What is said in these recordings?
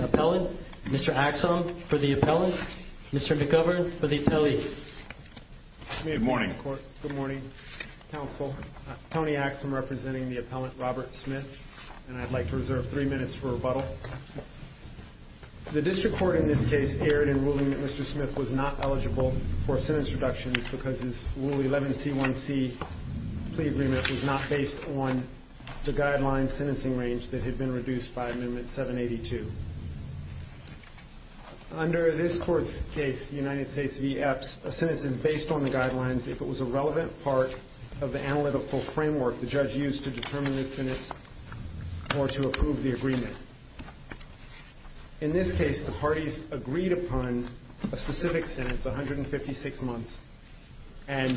Appellant, Mr. Axsom for the appellant, Mr. McGovern for the appellee. Good morning. Good morning, counsel. Tony Axsom representing the appellant, Robert Smith, and I'd like to reserve three minutes for rebuttal. The district court in this case erred in ruling that Mr. Smith was not eligible for sentence reduction because his ruling 11C1C plea agreement was not based on the guideline sentencing range that had been reduced by amendment 782. Under this court's case, United States v. Epps, a sentence is based on the guidelines if it was a relevant part of the analytical framework the judge used to determine the sentence or to approve the agreement. In this case, the parties agreed upon a specific sentence, 156 months, and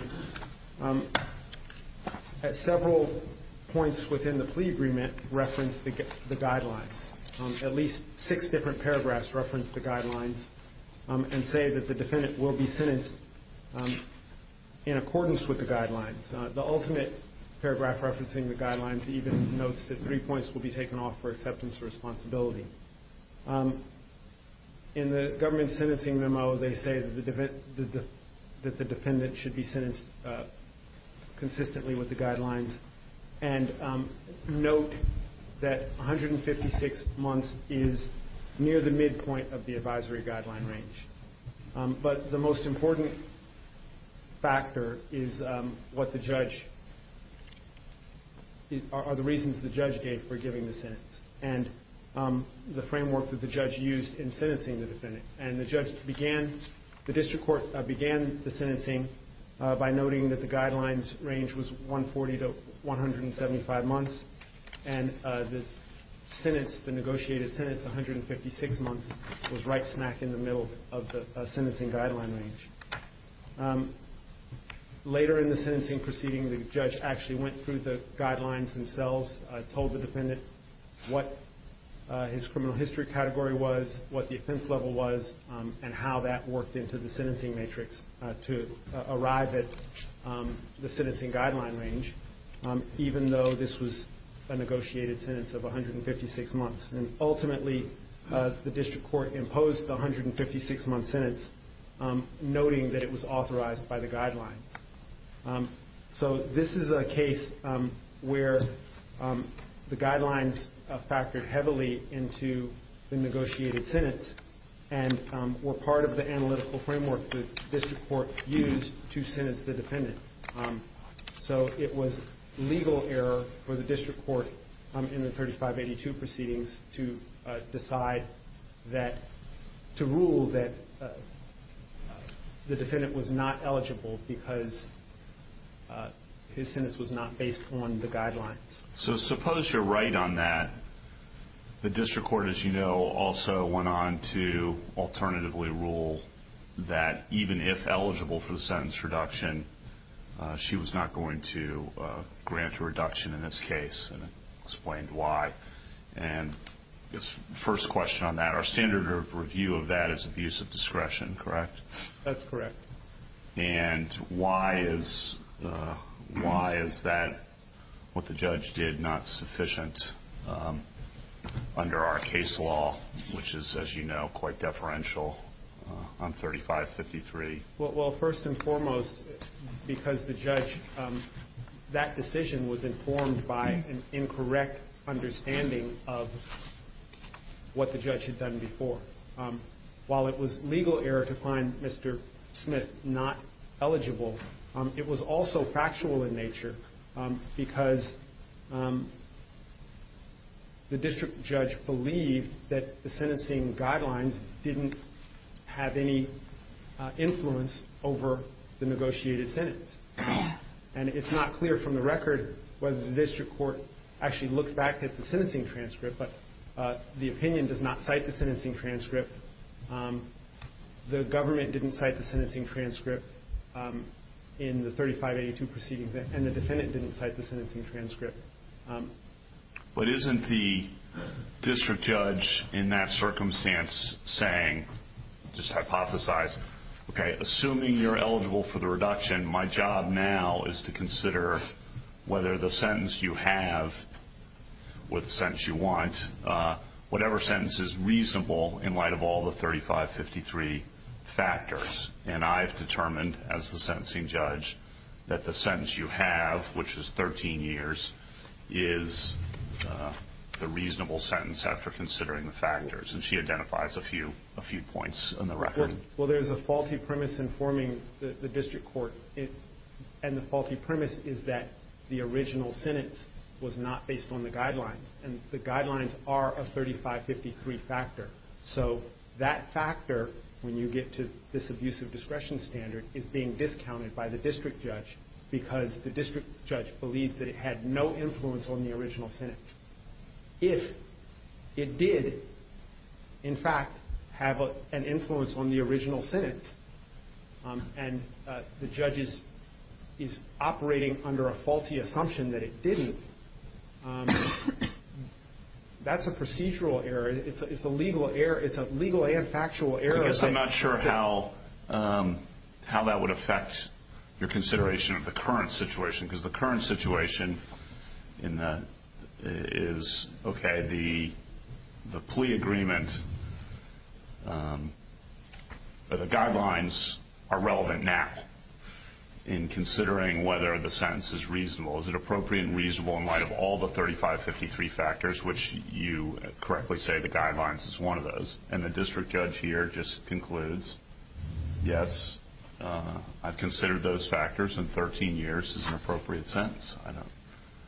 at several points within the plea agreement referenced the guidelines. At least six different paragraphs referenced the guidelines and say that the defendant will be sentenced in accordance with the guidelines. The ultimate paragraph referencing the guidelines even notes that three points will be taken off for acceptance of responsibility. In the government's sentencing memo, they say that the defendant should be sentenced consistently with the guidelines and note that 156 months is near the midpoint of the advisory guideline range. But the most important factor are the reasons the judge gave for giving the sentence and the framework that the judge used in sentencing the defendant. And the district court began the sentencing by noting that the guidelines range was 140 to 175 months, and the negotiated sentence, 156 months, was right smack in the middle of the sentencing guideline range. Later in the sentencing proceeding, the judge actually went through the guidelines themselves, told the defendant what his criminal history category was, what the offense level was, and how that worked into the sentencing matrix to arrive at the sentencing guideline range, even though this was a negotiated sentence of 156 months. And ultimately, the district court imposed the 156-month sentence, noting that it was authorized by the guidelines. So this is a case where the guidelines factored heavily into the negotiated sentence and were part of the analytical framework the district court used to sentence the defendant. So it was legal error for the district court in the 3582 proceedings to decide that, to rule that the defendant was not eligible because his sentence was not based on the guidelines. So suppose you're right on that. The district court, as you know, also went on to alternatively rule that even if eligible for the sentence reduction, she was not going to grant a reduction in this case and explained why. And I guess first question on that, our standard of review of that is abuse of discretion, correct? That's correct. And why is that what the judge did not sufficient under our case law, which is, as you know, quite deferential on 3553? Well, first and foremost, because the judge, that decision was informed by an incorrect understanding of what the judge had done before. While it was legal error to find Mr. Smith not eligible, it was also factual in nature because the district judge believed that the sentencing guidelines didn't have any influence over the negotiated sentence. And it's not clear from the record whether the district court actually looked back at the sentencing transcript, but the opinion does not cite the sentencing transcript. The government didn't cite the sentencing transcript in the 3582 proceeding, and the defendant didn't cite the sentencing transcript. But isn't the district judge in that circumstance saying, just hypothesize, okay, assuming you're eligible for the reduction, my job now is to consider whether the sentence you have or the sentence you want, whatever sentence is reasonable in light of all the 3553 factors. And I've determined, as the sentencing judge, that the sentence you have, which is 13 years, is the reasonable sentence after considering the factors. And she identifies a few points in the record. Well, there's a faulty premise in forming the district court. And the faulty premise is that the original sentence was not based on the guidelines. And the guidelines are a 3553 factor. So that factor, when you get to this abusive discretion standard, is being discounted by the district judge because the district judge believes that it had no influence on the original sentence. If it did, in fact, have an influence on the original sentence, and the judge is operating under a faulty assumption that it didn't, that's a procedural error. It's a legal error. It's a legal and factual error. I guess I'm not sure how that would affect your consideration of the current situation. Because the current situation is, okay, the plea agreement, the guidelines are relevant now in considering whether the sentence is reasonable. Is it appropriate and reasonable in light of all the 3553 factors, which you correctly say the guidelines is one of those. And the district judge here just concludes, yes, I've considered those factors in 13 years as an appropriate sentence.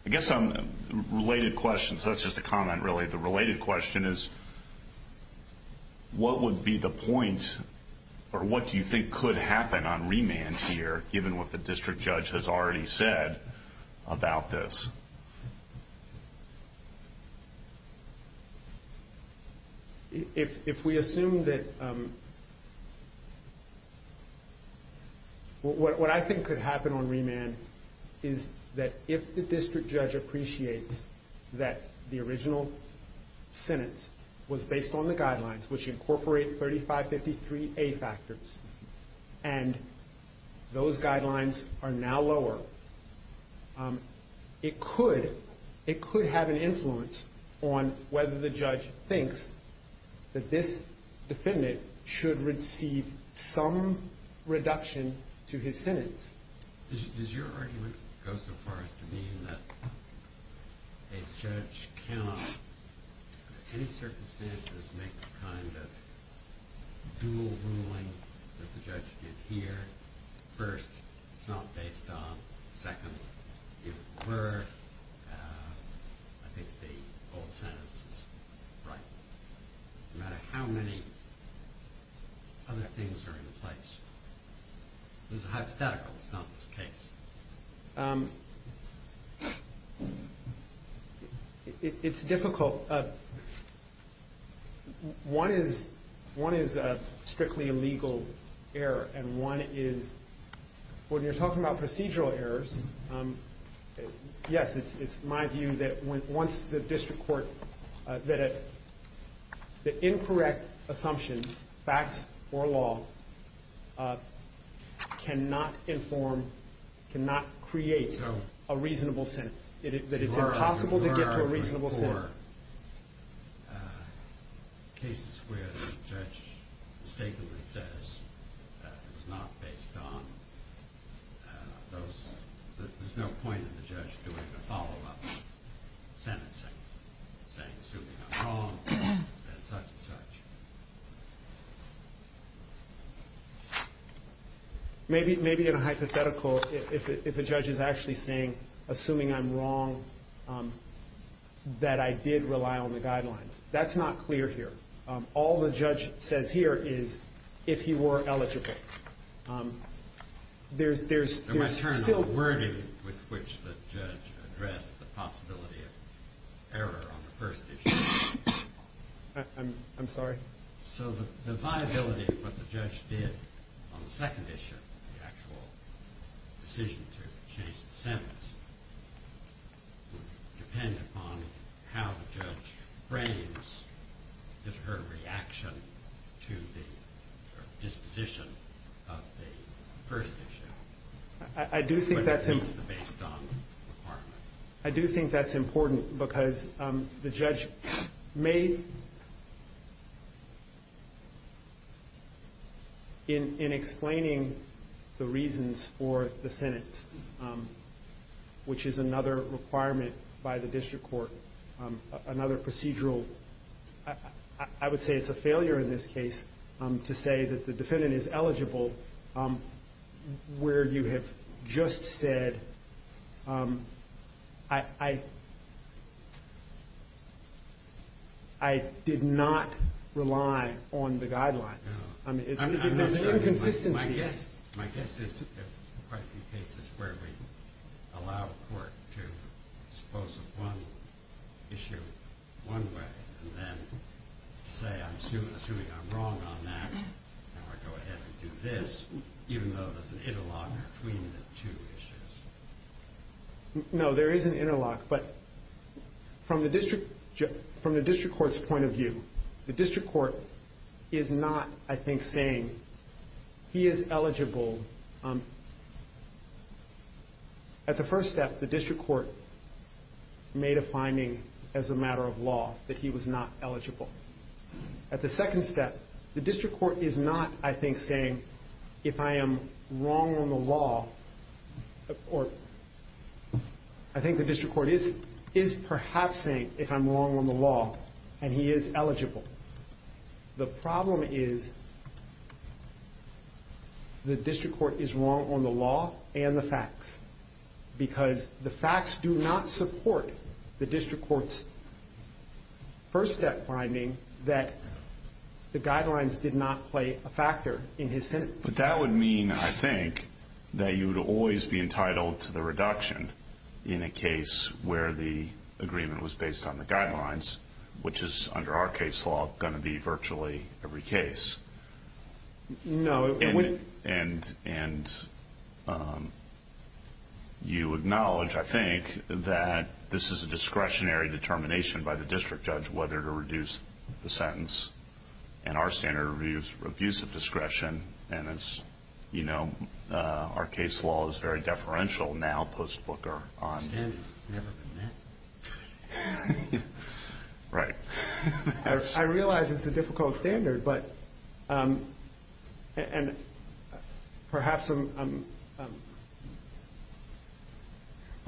I guess some related questions. That's just a comment, really. The related question is, what would be the point, or what do you think could happen on remand here, given what the district judge has already said about this? If we assume that... What I think could happen on remand is that if the district judge appreciates that the original sentence was based on the guidelines, which incorporate 3553A factors, and those guidelines are now lower, it could have an influence on whether the judge thinks that this defendant should receive some reduction to his sentence. Does your argument go so far as to mean that a judge cannot, in any circumstances, make the kind of dual ruling that the judge did here? First, it's not based on. Second, if it were, I think the old sentence is right. No matter how many other things are in place. This is a hypothetical. It's not this case. It's difficult. One is strictly a legal error, and one is... When you're talking about procedural errors, yes, it's my view that once the district court... The incorrect assumptions, facts or law, cannot inform, cannot create a reasonable sentence. That it's impossible to get to a reasonable sentence. Cases where the judge mistakenly says that it was not based on... There's no point in the judge doing a follow-up sentencing, saying, assuming I'm wrong, and such and such. Maybe in a hypothetical, if a judge is actually saying, assuming I'm wrong, that I did rely on the guidelines. That's not clear here. All the judge says here is, if he were eligible. There's still wording with which the judge addressed the possibility of error on the first issue. I'm sorry? The viability of what the judge did on the second issue, the actual decision to change the sentence, would depend upon how the judge frames his or her reaction to the disposition of the first issue. I do think that's important because the judge may... In explaining the reasons for the sentence, which is another requirement by the district court, another procedural... I would say it's a failure in this case to say that the defendant is eligible where you have just said, I did not rely on the guidelines. There's inconsistencies. My guess is that there are quite a few cases where we allow a court to dispose of one issue one way and then say, assuming I'm wrong on that, now I go ahead and do this, even though there's an interlock between the two issues. No, there is an interlock, but from the district court's point of view, the district court is not, I think, saying he is eligible. At the first step, the district court made a finding as a matter of law that he was not eligible. At the second step, the district court is not, I think, saying, if I am wrong on the law... I think the district court is perhaps saying if I'm wrong on the law and he is eligible. The problem is the district court is wrong on the law and the facts, because the facts do not support the district court's first step finding that the guidelines did not play a factor in his sentence. But that would mean, I think, that you would always be entitled to the reduction in a case where the agreement was based on the guidelines, which is, under our case law, going to be virtually every case. You acknowledge, I think, that this is a discretionary determination by the district judge whether to reduce the sentence, and our standard of abuse of discretion, and as you know, our case law is very deferential now, post-Booker. I realize it's a difficult standard, but... Perhaps...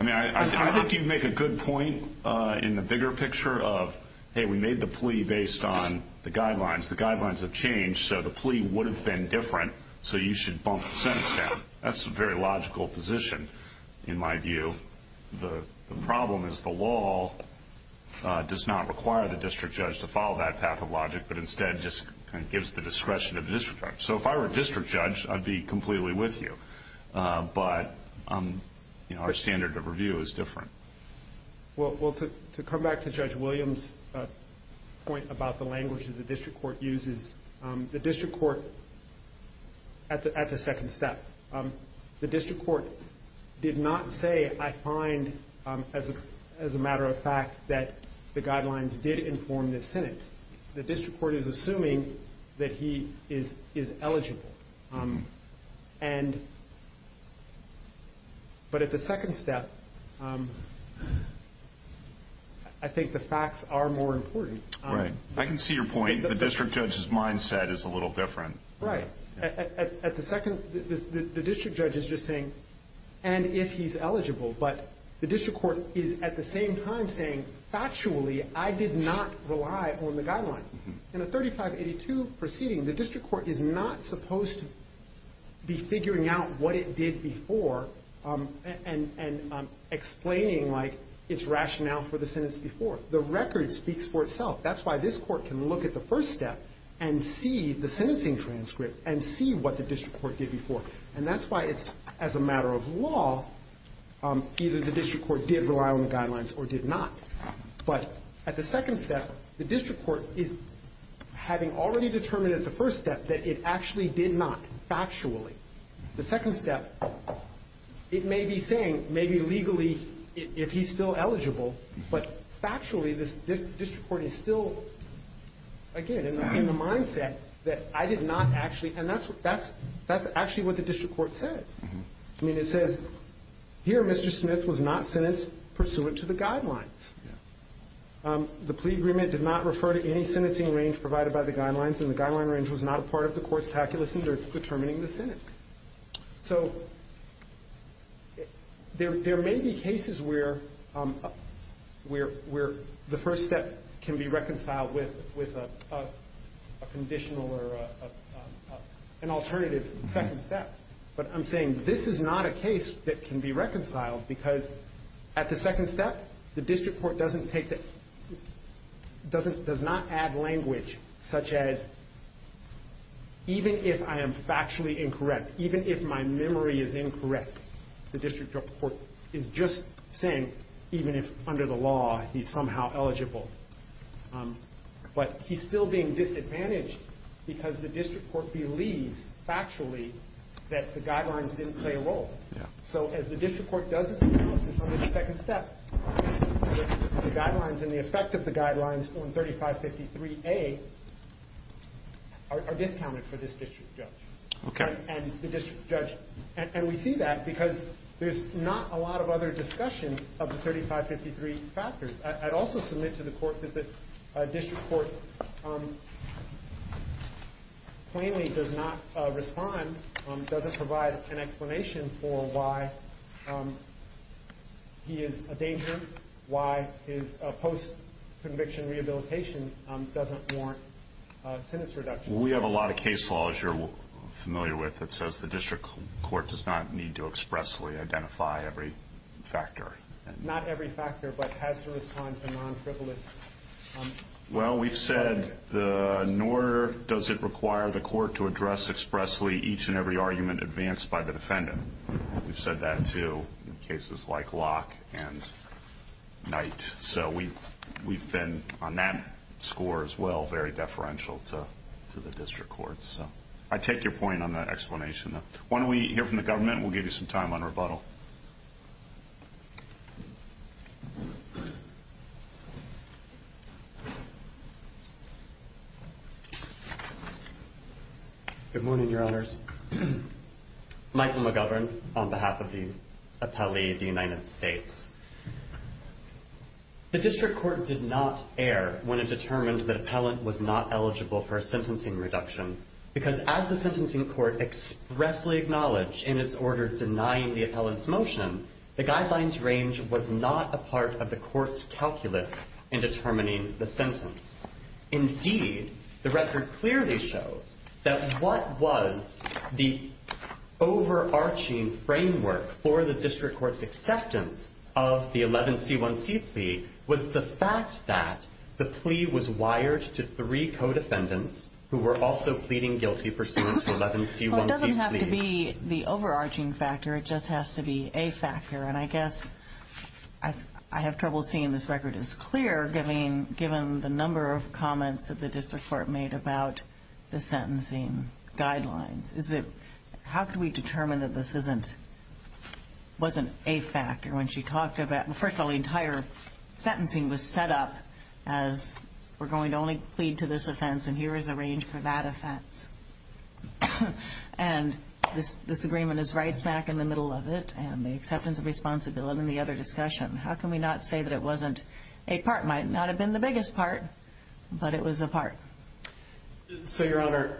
I mean, I think you make a good point in the bigger picture of, hey, we made the plea based on the guidelines. The guidelines have changed, so the plea would have been different, so you should bump the sentence down. That's a very logical position, in my view. The problem is the law does not require the district judge to follow that path of logic, but instead just gives the discretion of the district judge. So if I were a district judge, I'd be completely with you, but our standard of review is different. Well, to come back to Judge Williams' point about the language that the district court uses, the district court, at the second step, the district court did not say, I find, as a matter of fact, that the guidelines did inform the sentence. The district court is assuming that he is eligible. But at the second step, I think the facts are more important. Right. I can see your point. The district judge's mindset is a little different. Right. At the second... The district judge is just saying, and if he's eligible, but the district court is, at the same time, saying, factually, I did not rely on the guidelines. In a 3582 proceeding, the district court is not supposed to be figuring out what it did before and explaining, like, its rationale for the sentence before. The record speaks for itself. That's why this court can look at the first step and see the sentencing transcript and see what the district court did before. And that's why it's, as a matter of law, either the district court did rely on the guidelines or did not. But at the second step, the district court is having already determined at the first step that it actually did not, factually. The second step, it may be saying, maybe legally, if he's still eligible, but factually, this district court is still, again, in the mindset that I did not actually... And that's actually what the district court says. I mean, it says, here, Mr. Smith was not sentenced pursuant to the guidelines. The plea agreement did not refer to any sentencing range provided by the guidelines, and the guideline range was not a part of the court's calculus in determining the sentence. So there may be cases where the first step can be reconciled with a conditional or an alternative second step. But I'm saying this is not a case that can be reconciled because at the second step, the district court doesn't take the... does not add language such as, even if I am factually incorrect, even if my memory is incorrect, the district court is just saying, even if under the law, he's somehow eligible. But he's still being disadvantaged because the district court believes factually that the guidelines didn't play a role. So as the district court does its analysis under the second step, the guidelines and the effect of the guidelines on 3553A are discounted for this district judge. And we see that because there's not a lot of other discussion of the 3553 factors. I'd also submit to the court that the district court plainly does not respond, doesn't provide an explanation for why he is a danger, why his post-conviction rehabilitation doesn't warrant sentence reduction. We have a lot of case laws you're familiar with that says the district court does not need to expressly identify every factor. Not every factor, but has to respond to non-frivolous... Well, we've said, nor does it require the court to address expressly each and every argument advanced by the defendant. We've said that, too, in cases like Locke and Knight. So we've been, on that score as well, very deferential to the district courts. I take your point on that explanation, though. Why don't we hear from the government? We'll give you some time on rebuttal. Good morning, Your Honors. Michael McGovern on behalf of the appellee of the United States. The district court did not err when it determined that appellant was not eligible for a sentencing reduction, because as the sentencing court expressly acknowledged in its order denying the appellant's motion, the guidelines range was not a part of the court's calculus in determining the sentence. Indeed, the record clearly shows that what was the overarching framework for the district court's acceptance of the 11C1C plea was the fact that the plea was wired to three co-defendants who were also pleading guilty pursuant to 11C1C. Well, it doesn't have to be the overarching factor. It just has to be a factor. And I guess I have trouble seeing this record as clear, given the number of comments that the district court made about the sentencing guidelines. How could we determine that this wasn't a factor when she talked about that, well, first of all, the entire sentencing was set up as we're going to only plead to this offense and here is a range for that offense. And this agreement is right smack in the middle of it and the acceptance of responsibility in the other discussion. How can we not say that it wasn't a part? It might not have been the biggest part, but it was a part. So, Your Honor,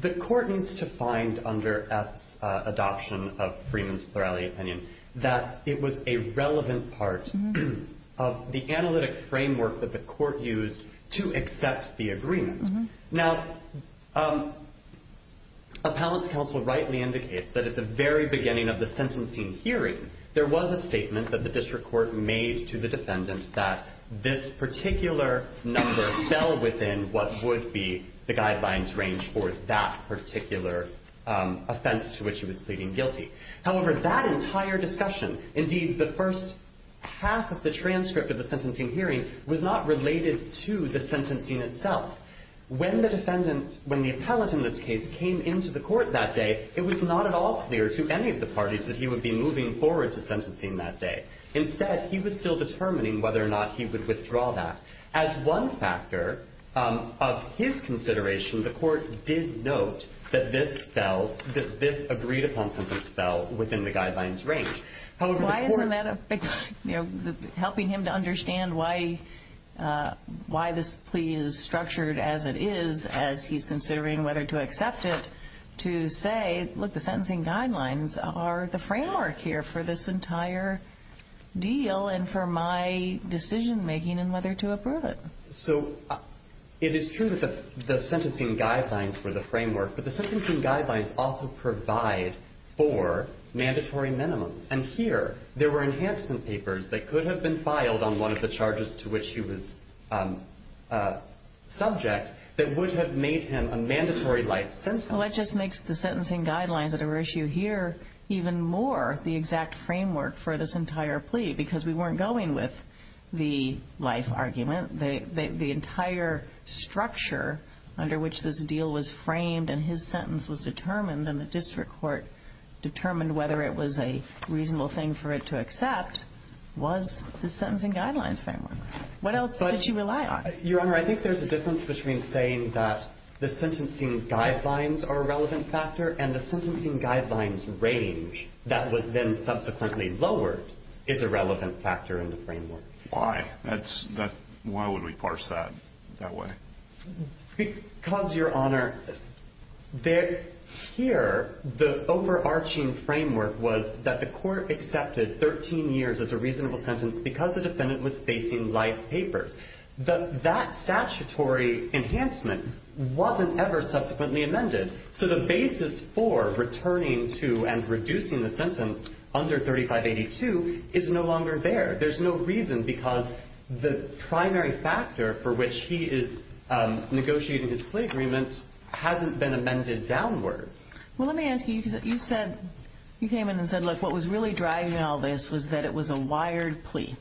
the court needs to find under Epps' adoption of Freeman's was a very relevant part of the analytic framework that the court used to accept the agreement. Now, appellant's counsel rightly indicates that at the very beginning of the sentencing hearing, there was a statement that the district court made to the defendant that this particular number fell within what would be the guidelines range for that particular offense to which he was pleading guilty. However, that entire discussion, indeed the first half of the transcript of the sentencing hearing, was not related to the sentencing itself. When the defendant, when the appellant in this case came into the court that day, it was not at all clear to any of the parties that he would be moving forward to sentencing that day. Instead, he was still determining whether or not he would withdraw that. As one factor of his consideration, the court did note that this fell, that this agreed-upon sentence fell within the guidelines range. However, the court- Why isn't that a big, you know, helping him to understand why this plea is structured as it is as he's considering whether to accept it to say, look, the sentencing guidelines are the framework here for this entire deal and for my decision-making and whether to approve it. So, it is true that the sentencing guidelines were the framework, but the sentencing guidelines also provide for mandatory minimums. And here, there were enhancement papers that could have been filed on one of the charges to which he was subject that would have made him a mandatory life sentence. Well, that just makes the sentencing guidelines at issue here even more the exact framework for this entire plea because we weren't going with the life argument. The entire structure under which this deal was framed and his sentence was determined and the district court determined whether it was a reasonable thing for it to accept was the sentencing guidelines framework. What else did you rely on? Your Honor, I think there's a difference between saying that the sentencing guidelines are a relevant factor and the sentencing guidelines range that was then subsequently lowered is a relevant factor in the framework. Why? Why would we parse that that way? Because, Your Honor, here, the overarching framework was that the court accepted 13 years as a reasonable sentence because the defendant was facing life papers. That statutory enhancement wasn't ever subsequently amended. So, the basis for returning to and reducing the sentence under 3582 is no longer there. There's no reason because the primary factor for which he is negotiating his plea agreement hasn't been amended downwards. Well, let me ask you. You said you came in and said, look, what was really driving all this was that it was a wired plea.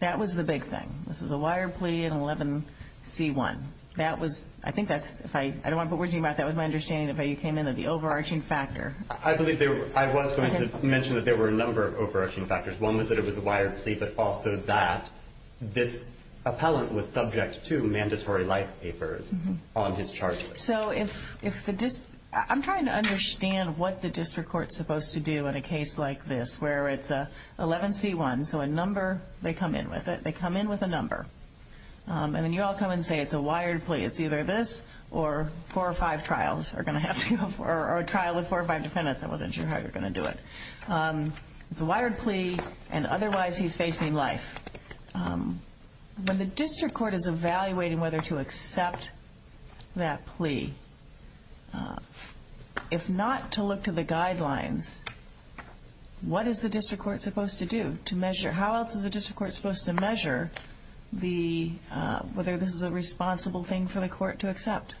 That was the big thing. This was a wired plea in 11C1. That was, I think that's, I don't want to put words in your mouth, that was my understanding of how you came in, that the overarching factor. I believe I was going to mention that there were a number of overarching factors. One was that it was a wired plea, but also that this appellant was subject to mandatory life papers on his charges. So, if the district, I'm trying to understand what the district court is supposed to do in a case like this where it's 11C1, so a number, they come in with it. They come in with a number. And then you all come and say it's a wired plea. It's either this or four or five trials are going to have to go, or a trial with four or five defendants. I wasn't sure how you were going to do it. It's a wired plea, and otherwise he's facing life. When the district court is evaluating whether to accept that plea, if not to look to the guidelines, what is the district court supposed to do to measure? How else is the district court supposed to measure whether this is a responsible thing for the court to accept?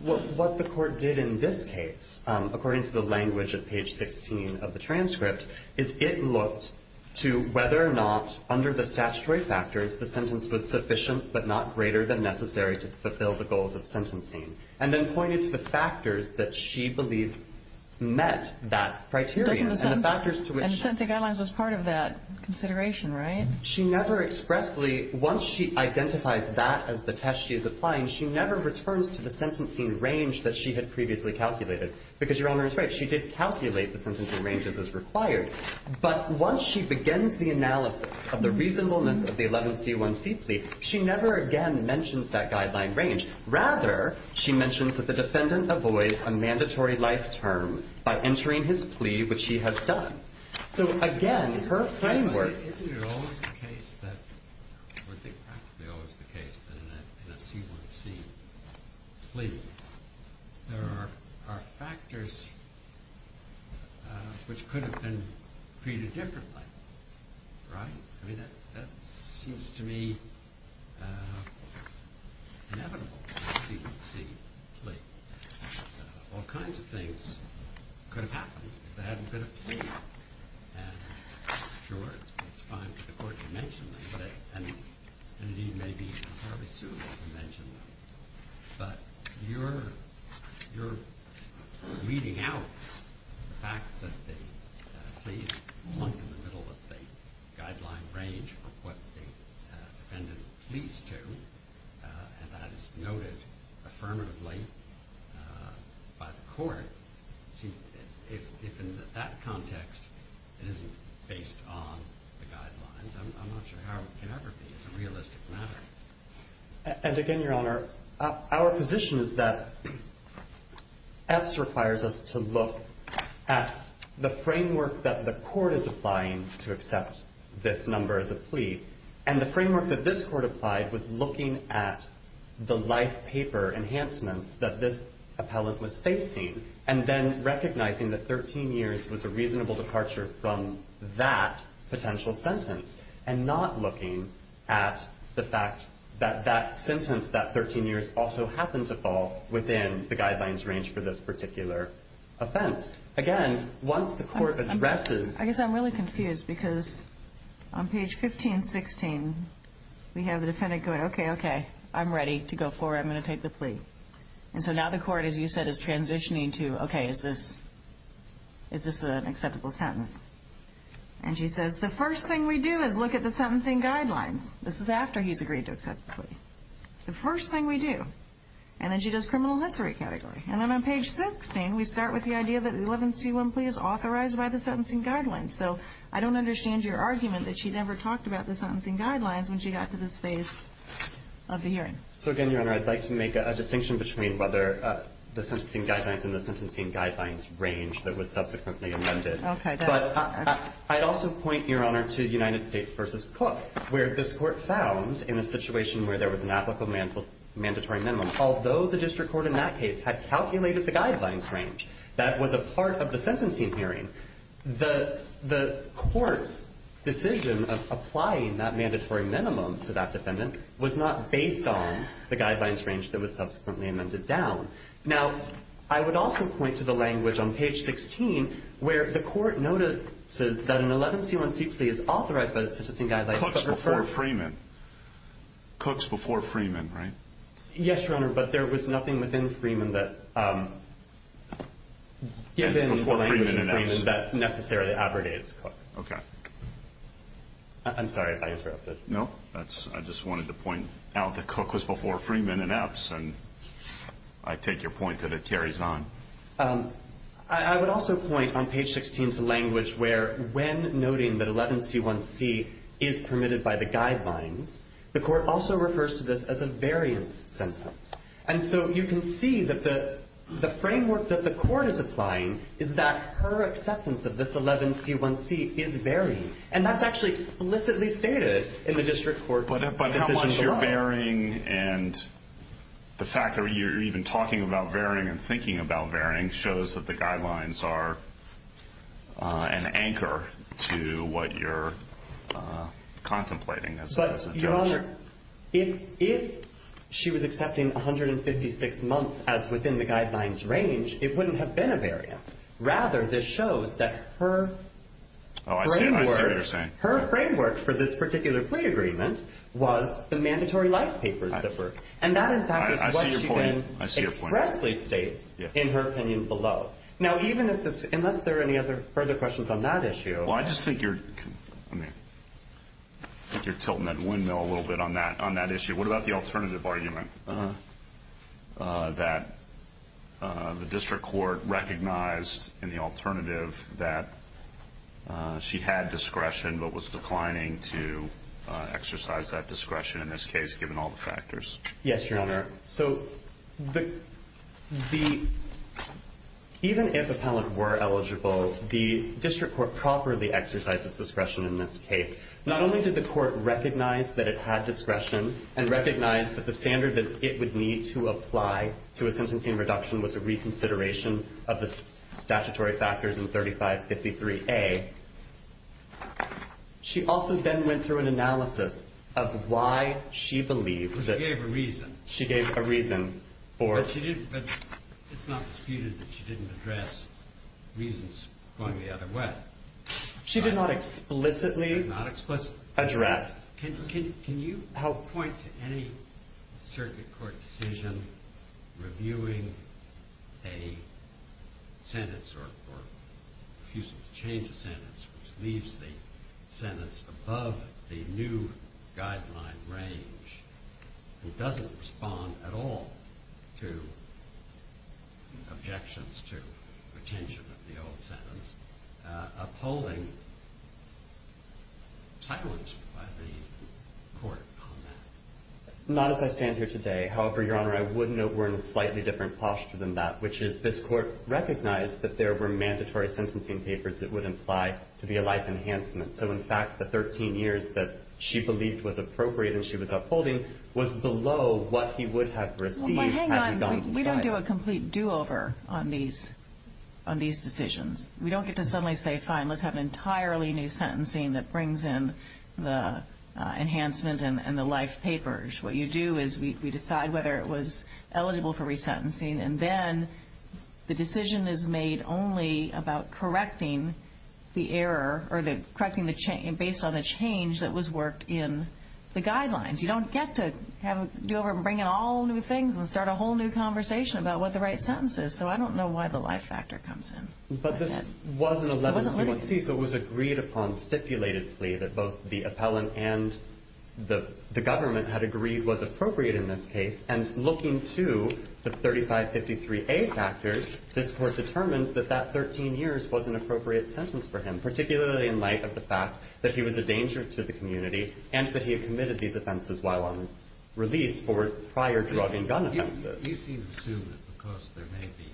What the court did in this case, according to the language of page 16 of the transcript, is it looked to whether or not, under the statutory factors, the sentence was sufficient but not greater than necessary to fulfill the goals of sentencing, and then pointed to the factors that she believed met that criteria. And the factors to which... And the sentencing guidelines was part of that consideration, right? She never expressly, once she identifies that as the test she's applying, she never returns to the sentencing range that she had previously calculated, because Your Honor is right. She did calculate the sentencing ranges as required. But once she begins the analysis of the reasonableness of the 11C1C plea, she never again mentions that guideline range. Rather, she mentions that the defendant avoids a mandatory life term by entering his plea, which he has done. So, again, it's her framework... I think practically always the case that in a C1C plea, there are factors which could have been treated differently, right? I mean, that seems to me inevitable in a C1C plea. All kinds of things could have happened if there hadn't been a plea. And, sure, it's fine for the court to mention them. And indeed, maybe it's hardly suitable to mention them. But you're leading out the fact that the pleas plunk in the middle of the guideline range of what the defendant pleads to, and that is noted affirmatively by the court. If in that context it isn't based on the guidelines, I'm not sure how it can ever be. It's a realistic matter. And, again, Your Honor, our position is that Epps requires us to look at the framework that the court is applying to accept this number as a plea, and the framework that this court applied was looking at the life paper enhancements that this appellant was facing, and then recognizing that 13 years was a reasonable departure from that potential sentence, and not looking at the fact that that sentence, that 13 years, also happened to fall within the guidelines range for this particular offense. Again, once the court addresses the plea. I guess I'm really confused because on page 1516, we have the defendant going, okay, okay, I'm ready to go forward. I'm going to take the plea. And so now the court, as you said, is transitioning to, okay, is this an acceptable sentence? And she says, the first thing we do is look at the sentencing guidelines. This is after he's agreed to accept the plea. The first thing we do. And then she does criminal history category. And then on page 16, we start with the idea that the 11C1 plea is authorized by the sentencing guidelines. So I don't understand your argument that she never talked about the sentencing guidelines when she got to this phase of the hearing. So again, Your Honor, I'd like to make a distinction between whether the sentencing guidelines and the sentencing guidelines range that was subsequently amended. But I'd also point, Your Honor, to United States v. Cook, where this court found in a situation where there was an applicable mandatory minimum, although the district court in that case had calculated the guidelines range that was a part of the sentencing hearing, the court's decision of applying that mandatory minimum to that defendant was not based on the guidelines range that was subsequently amended down. Now, I would also point to the language on page 16 where the court notices that an 11C1 plea is authorized by the sentencing guidelines. Cook's before Freeman. Cook's before Freeman, right? Yes, Your Honor, but there was nothing within Freeman that necessarily abrogates Cook. Okay. I'm sorry if I interrupted. No, I just wanted to point out that Cook was before Freeman and Epps. And I take your point that it carries on. I would also point on page 16 to language where when noting that 11C1C is permitted by the guidelines, the court also refers to this as a variance sentence. And so you can see that the framework that the court is applying is that her acceptance of this 11C1C is varying. And that's actually explicitly stated in the district court's decision. But how much you're varying and the fact that you're even talking about varying and thinking about varying shows that the guidelines are an anchor to what you're contemplating as a judge. But, Your Honor, if she was accepting 156 months as within the guidelines range, it wouldn't have been a variance. Rather, this shows that her framework for this particular plea agreement was the mandatory life papers that were. And that, in fact, is what she then expressly states in her opinion below. Now, unless there are any further questions on that issue. Well, I just think you're tilting that windmill a little bit on that issue. What about the alternative argument that the district court recognized in the alternative that she had discretion but was declining to exercise that discretion in this case, given all the factors? Yes, Your Honor. So even if a penalty were eligible, the district court properly exercised its discretion in this case. Not only did the court recognize that it had discretion and recognize that the standard that it would need to apply to a sentencing reduction was a reconsideration of the statutory factors in 3553A, she also then went through an analysis of why she believed that. She gave a reason. She gave a reason. But it's not disputed that she didn't address reasons going the other way. She did not explicitly address. Can you help point to any circuit court decision reviewing a sentence or refusal to change a sentence which leaves the sentence above the new guideline range and doesn't respond at all to objections to retention of the old sentence, upholding silence by the court on that? Not as I stand here today. However, Your Honor, I would note we're in a slightly different posture than that, which is this court recognized that there were mandatory sentencing papers that would imply to be a life enhancement. So in fact, the 13 years that she believed was appropriate and she was saying was below what he would have received had he gone to trial. Hang on. We don't do a complete do-over on these decisions. We don't get to suddenly say, fine, let's have an entirely new sentencing that brings in the enhancement and the life papers. What you do is we decide whether it was eligible for resentencing, and then the decision is made only about correcting the error or correcting the change based on the change that was worked in the guidelines. You don't get to have a do-over and bring in all new things and start a whole new conversation about what the right sentence is. So I don't know why the life factor comes in. But this was an 11C1C, so it was agreed upon stipulated plea that both the appellant and the government had agreed was appropriate in this case. And looking to the 3553A factors, this court determined that that 13 years was an appropriate sentence for him, particularly in light of the fact that he was a danger to the community, and that he had committed these offenses while on release for prior drug and gun offenses. You seem to assume that because there may be,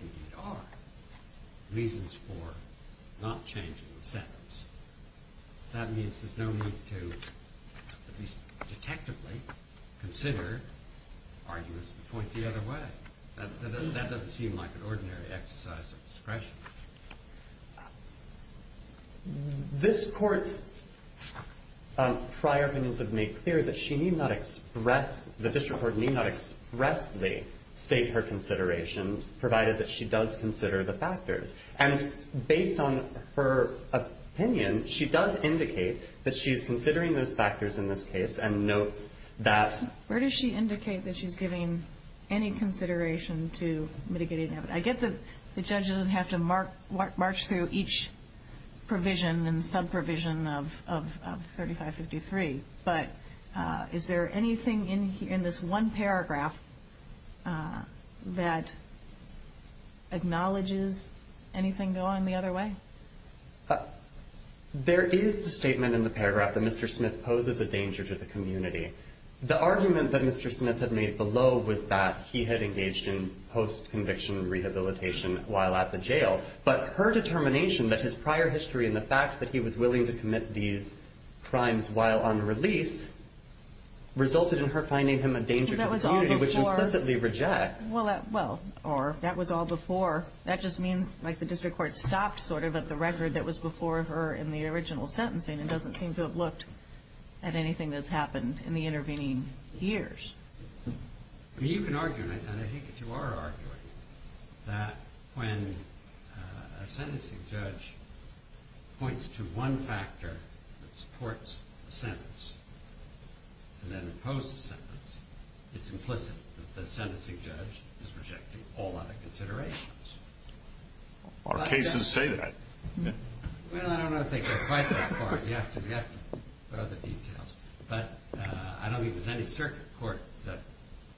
and indeed are, reasons for not changing the sentence, that means there's no need to, at least detectively, consider arguments that point the other way. That doesn't seem like an ordinary exercise of discretion. This court's prior opinions have made clear that she need not express the district court need not expressly state her considerations, provided that she does consider the factors. And based on her opinion, she does indicate that she's considering those factors in this case and notes that. Where does she indicate that she's giving any consideration to mitigating that? I get that the judge doesn't have to march through each provision and subprovision of 3553, but is there anything in this one paragraph that acknowledges anything going the other way? There is the statement in the paragraph that Mr. Smith poses a danger to the community. The argument that Mr. Smith had made below was that he had engaged in post conviction rehabilitation while at the jail, but her determination that his prior history and the fact that he was willing to commit these crimes while unreleased resulted in her finding him a danger to the community, which implicitly rejects. Well, that was all before. That just means, like, the district court stopped sort of at the record that was before her in the original sentencing and doesn't seem to have looked at anything that's happened in the intervening years. I mean, you can argue, and I think that you are arguing, that when a sentencing judge points to one factor that supports the sentence and then opposes the sentence, it's implicit that the sentencing judge is rejecting all other considerations. Our cases say that. Well, I don't know if they go quite that far. Of course, we have to put other details. But I don't think there's any circuit court that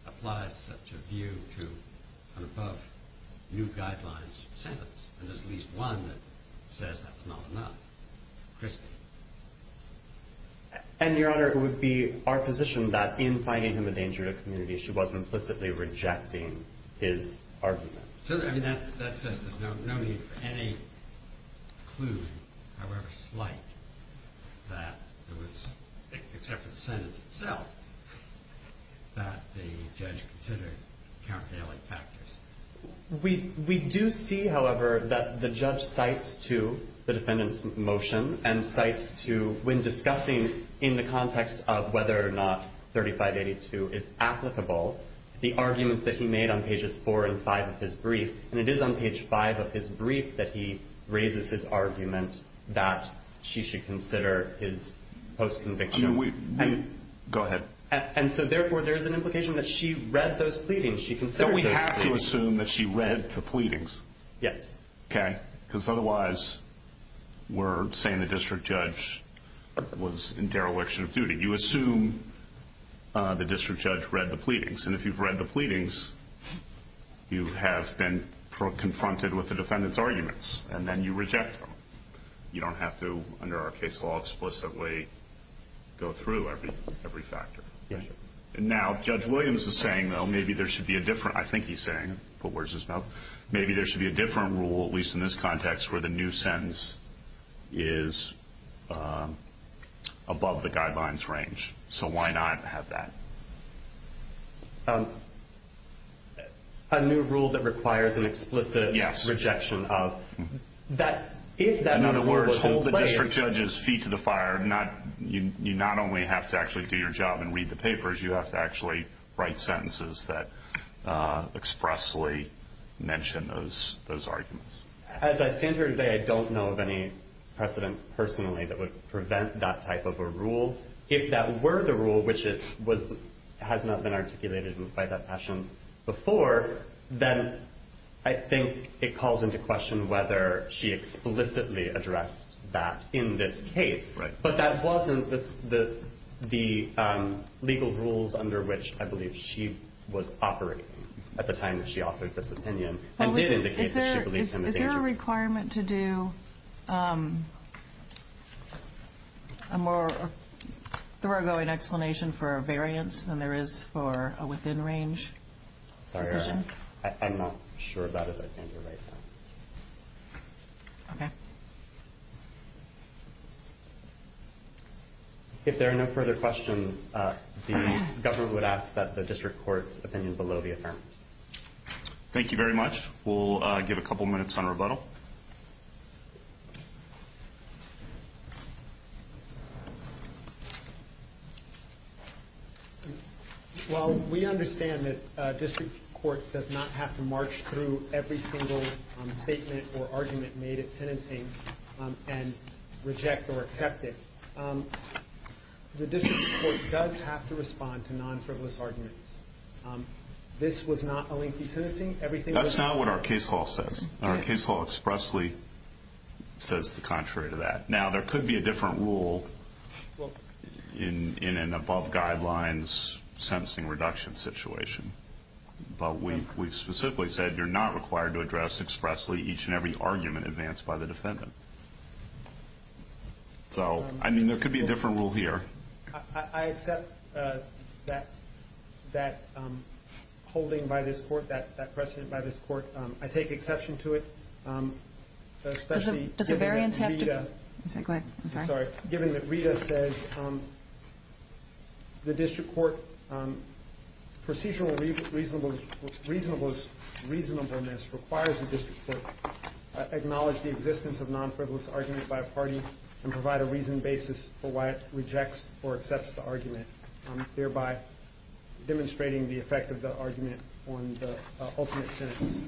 applies such a view to an above new guidelines sentence. And there's at least one that says that's not enough. Chris. And, Your Honor, it would be our position that in finding him a danger to the community, she was implicitly rejecting his argument. So, I mean, that says there's no need for any clue, however slight, that there was, except for the sentence itself, that the judge considered countervailing factors. We do see, however, that the judge cites to the defendant's motion and cites to, when discussing in the context of whether or not 3582 is applicable, the brief, and it is on page five of his brief that he raises his argument that she should consider his post-conviction. Go ahead. And so, therefore, there's an implication that she read those pleadings. She considered those pleadings. So we have to assume that she read the pleadings? Yes. Okay. Because otherwise we're saying the district judge was in dereliction of duty. You assume the district judge read the pleadings. And if you've read the pleadings, you have been confronted with the defendant's arguments. And then you reject them. You don't have to, under our case law, explicitly go through every factor. Yes, sir. Now, Judge Williams is saying, though, maybe there should be a different, I think he's saying, but where's his mouth, maybe there should be a different rule, at least in this context, where the new sentence is above the guidelines range. So why not have that? A new rule that requires an explicit rejection of. Yes. In other words, the district judge's feet to the fire. You not only have to actually do your job and read the papers, you have to actually write sentences that expressly mention those arguments. As I stand here today, I don't know of any precedent personally that would prevent that type of a rule. If that were the rule, which has not been articulated by that passion before, then I think it calls into question whether she explicitly addressed that in this case. Right. But that wasn't the legal rules under which I believe she was operating at the time that she offered this opinion. Is there a requirement to do a more thoroughgoing explanation for a variance than there is for a within range? Sorry, I'm not sure of that as I stand here right now. Okay. If there are no further questions, the government would ask that the district court's opinion below the affirmative. Thank you very much. We'll give a couple minutes on rebuttal. Well, we understand that district court does not have to march through every single statement or argument made at sentencing and reject or accept it. The district court does have to respond to non-frivolous arguments. This was not a lengthy sentencing. That's not what our case law says. Our case law expressly says the contrary to that. Now, there could be a different rule in an above guidelines sentencing reduction situation. But we specifically said you're not required to address expressly each and every argument advanced by the defendant. So, I mean, there could be a different rule here. I accept that holding by this court, that precedent by this court. I take exception to it, especially given that Rita says the district court procedural reasonableness requires the district court acknowledge the existence of non-frivolous arguments by a party and provide a reasoned or accepted argument, thereby demonstrating the effect of the argument on the ultimate sentence.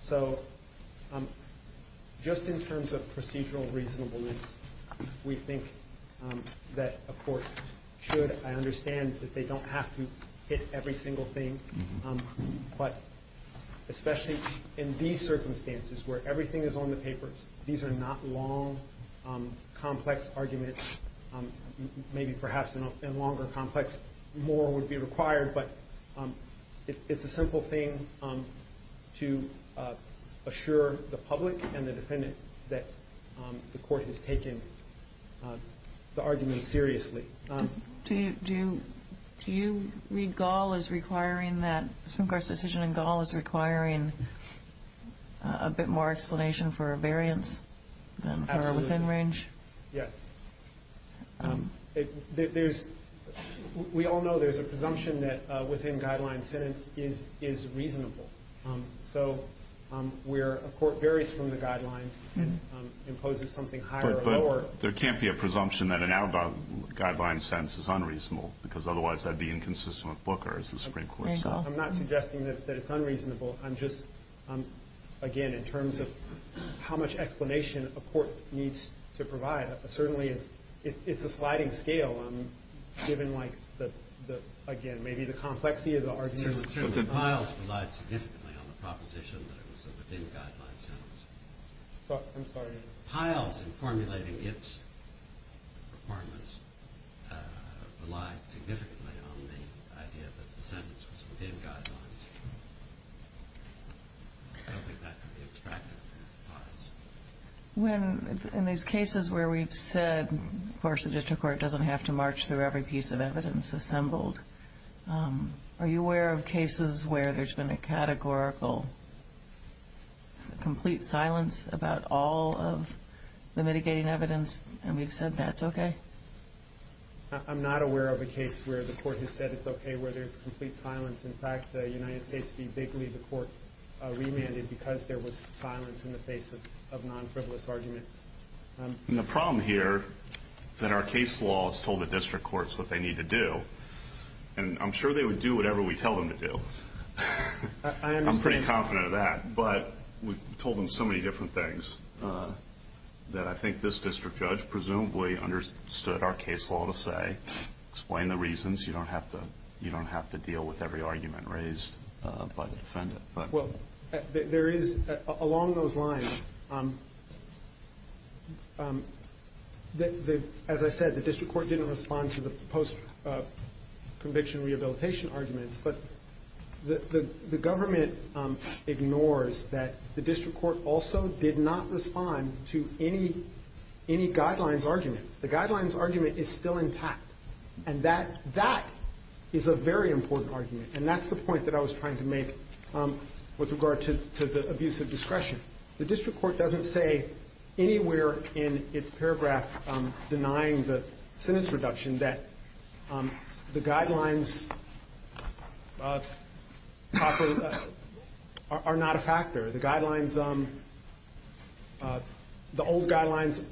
So, just in terms of procedural reasonableness, we think that a court should, I understand that they don't have to hit every single thing, but especially in these circumstances where everything is on the papers, these are not long, complex arguments. Maybe perhaps in a longer complex, more would be required. But it's a simple thing to assure the public and the defendant that the court has taken the argument seriously. Do you read Gaul as requiring that Supreme Court's decision in Gaul is requiring a bit more explanation for a variance than within range? Absolutely. Yes. There's, we all know there's a presumption that within-guideline sentence is reasonable. So, where a court varies from the guidelines and imposes something higher or lower. But there can't be a presumption that an out-of-guideline sentence is unreasonable because otherwise that would be inconsistent with Booker as the Supreme Court. I'm not suggesting that it's unreasonable. I'm just, again, in terms of how much explanation a court needs to provide. Certainly, it's a sliding scale, given like the, again, maybe the complexity of the argument. Certainly, piles relied significantly on the proposition that it was a within-guideline sentence. I'm sorry. Piles in formulating its requirements relied significantly on the idea that the sentence was within guidelines. I don't think that can be extracted from the piles. When, in these cases where we've said, of course, the district court doesn't have to march through every piece of evidence assembled, are you aware of cases where there's been a categorical complete silence about all of the mitigating evidence and we've said that's okay? I'm not aware of a case where the court has said it's okay, where there's complete silence. In fact, the United States v. Bigley, the court remanded because there was silence in the face of non-frivolous arguments. The problem here that our case law has told the district courts what they need to do, and I'm sure they would do whatever we tell them to do. I'm pretty confident of that, but we've told them so many different things that I think this district judge presumably understood our case law to say, explain the reasons. You don't have to deal with every argument raised by the defendant. Well, there is along those lines, as I said, the district court didn't respond to the post-conviction rehabilitation arguments, but the government ignores that the district court also did not respond to any guidelines argument. The guidelines argument is still intact, and that is a very important argument, and that's the point that I was trying to make with regard to the abuse of discretion. The district court doesn't say anywhere in its paragraph denying the sentence reduction that the guidelines are not a factor. The guidelines, the old guidelines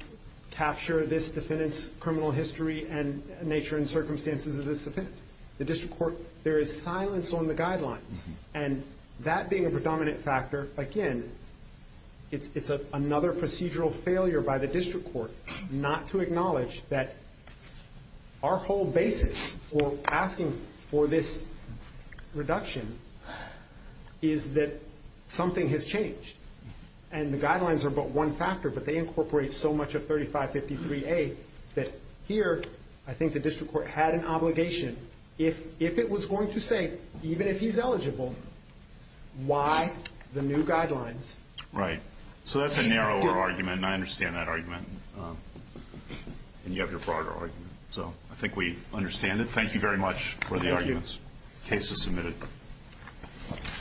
capture this defendant's criminal history and nature and circumstances of this offense. The district court, there is silence on the guidelines, and that being a predominant factor, again, it's another procedural failure by the district court not to Our whole basis for asking for this reduction is that something has changed, and the guidelines are but one factor, but they incorporate so much of 3553A that here, I think the district court had an obligation, if it was going to say, even if he's eligible, why the new guidelines. Right. So that's a narrower argument, and I understand that argument, and you have your broader argument. So I think we understand it. Thank you very much for the arguments. The case is submitted.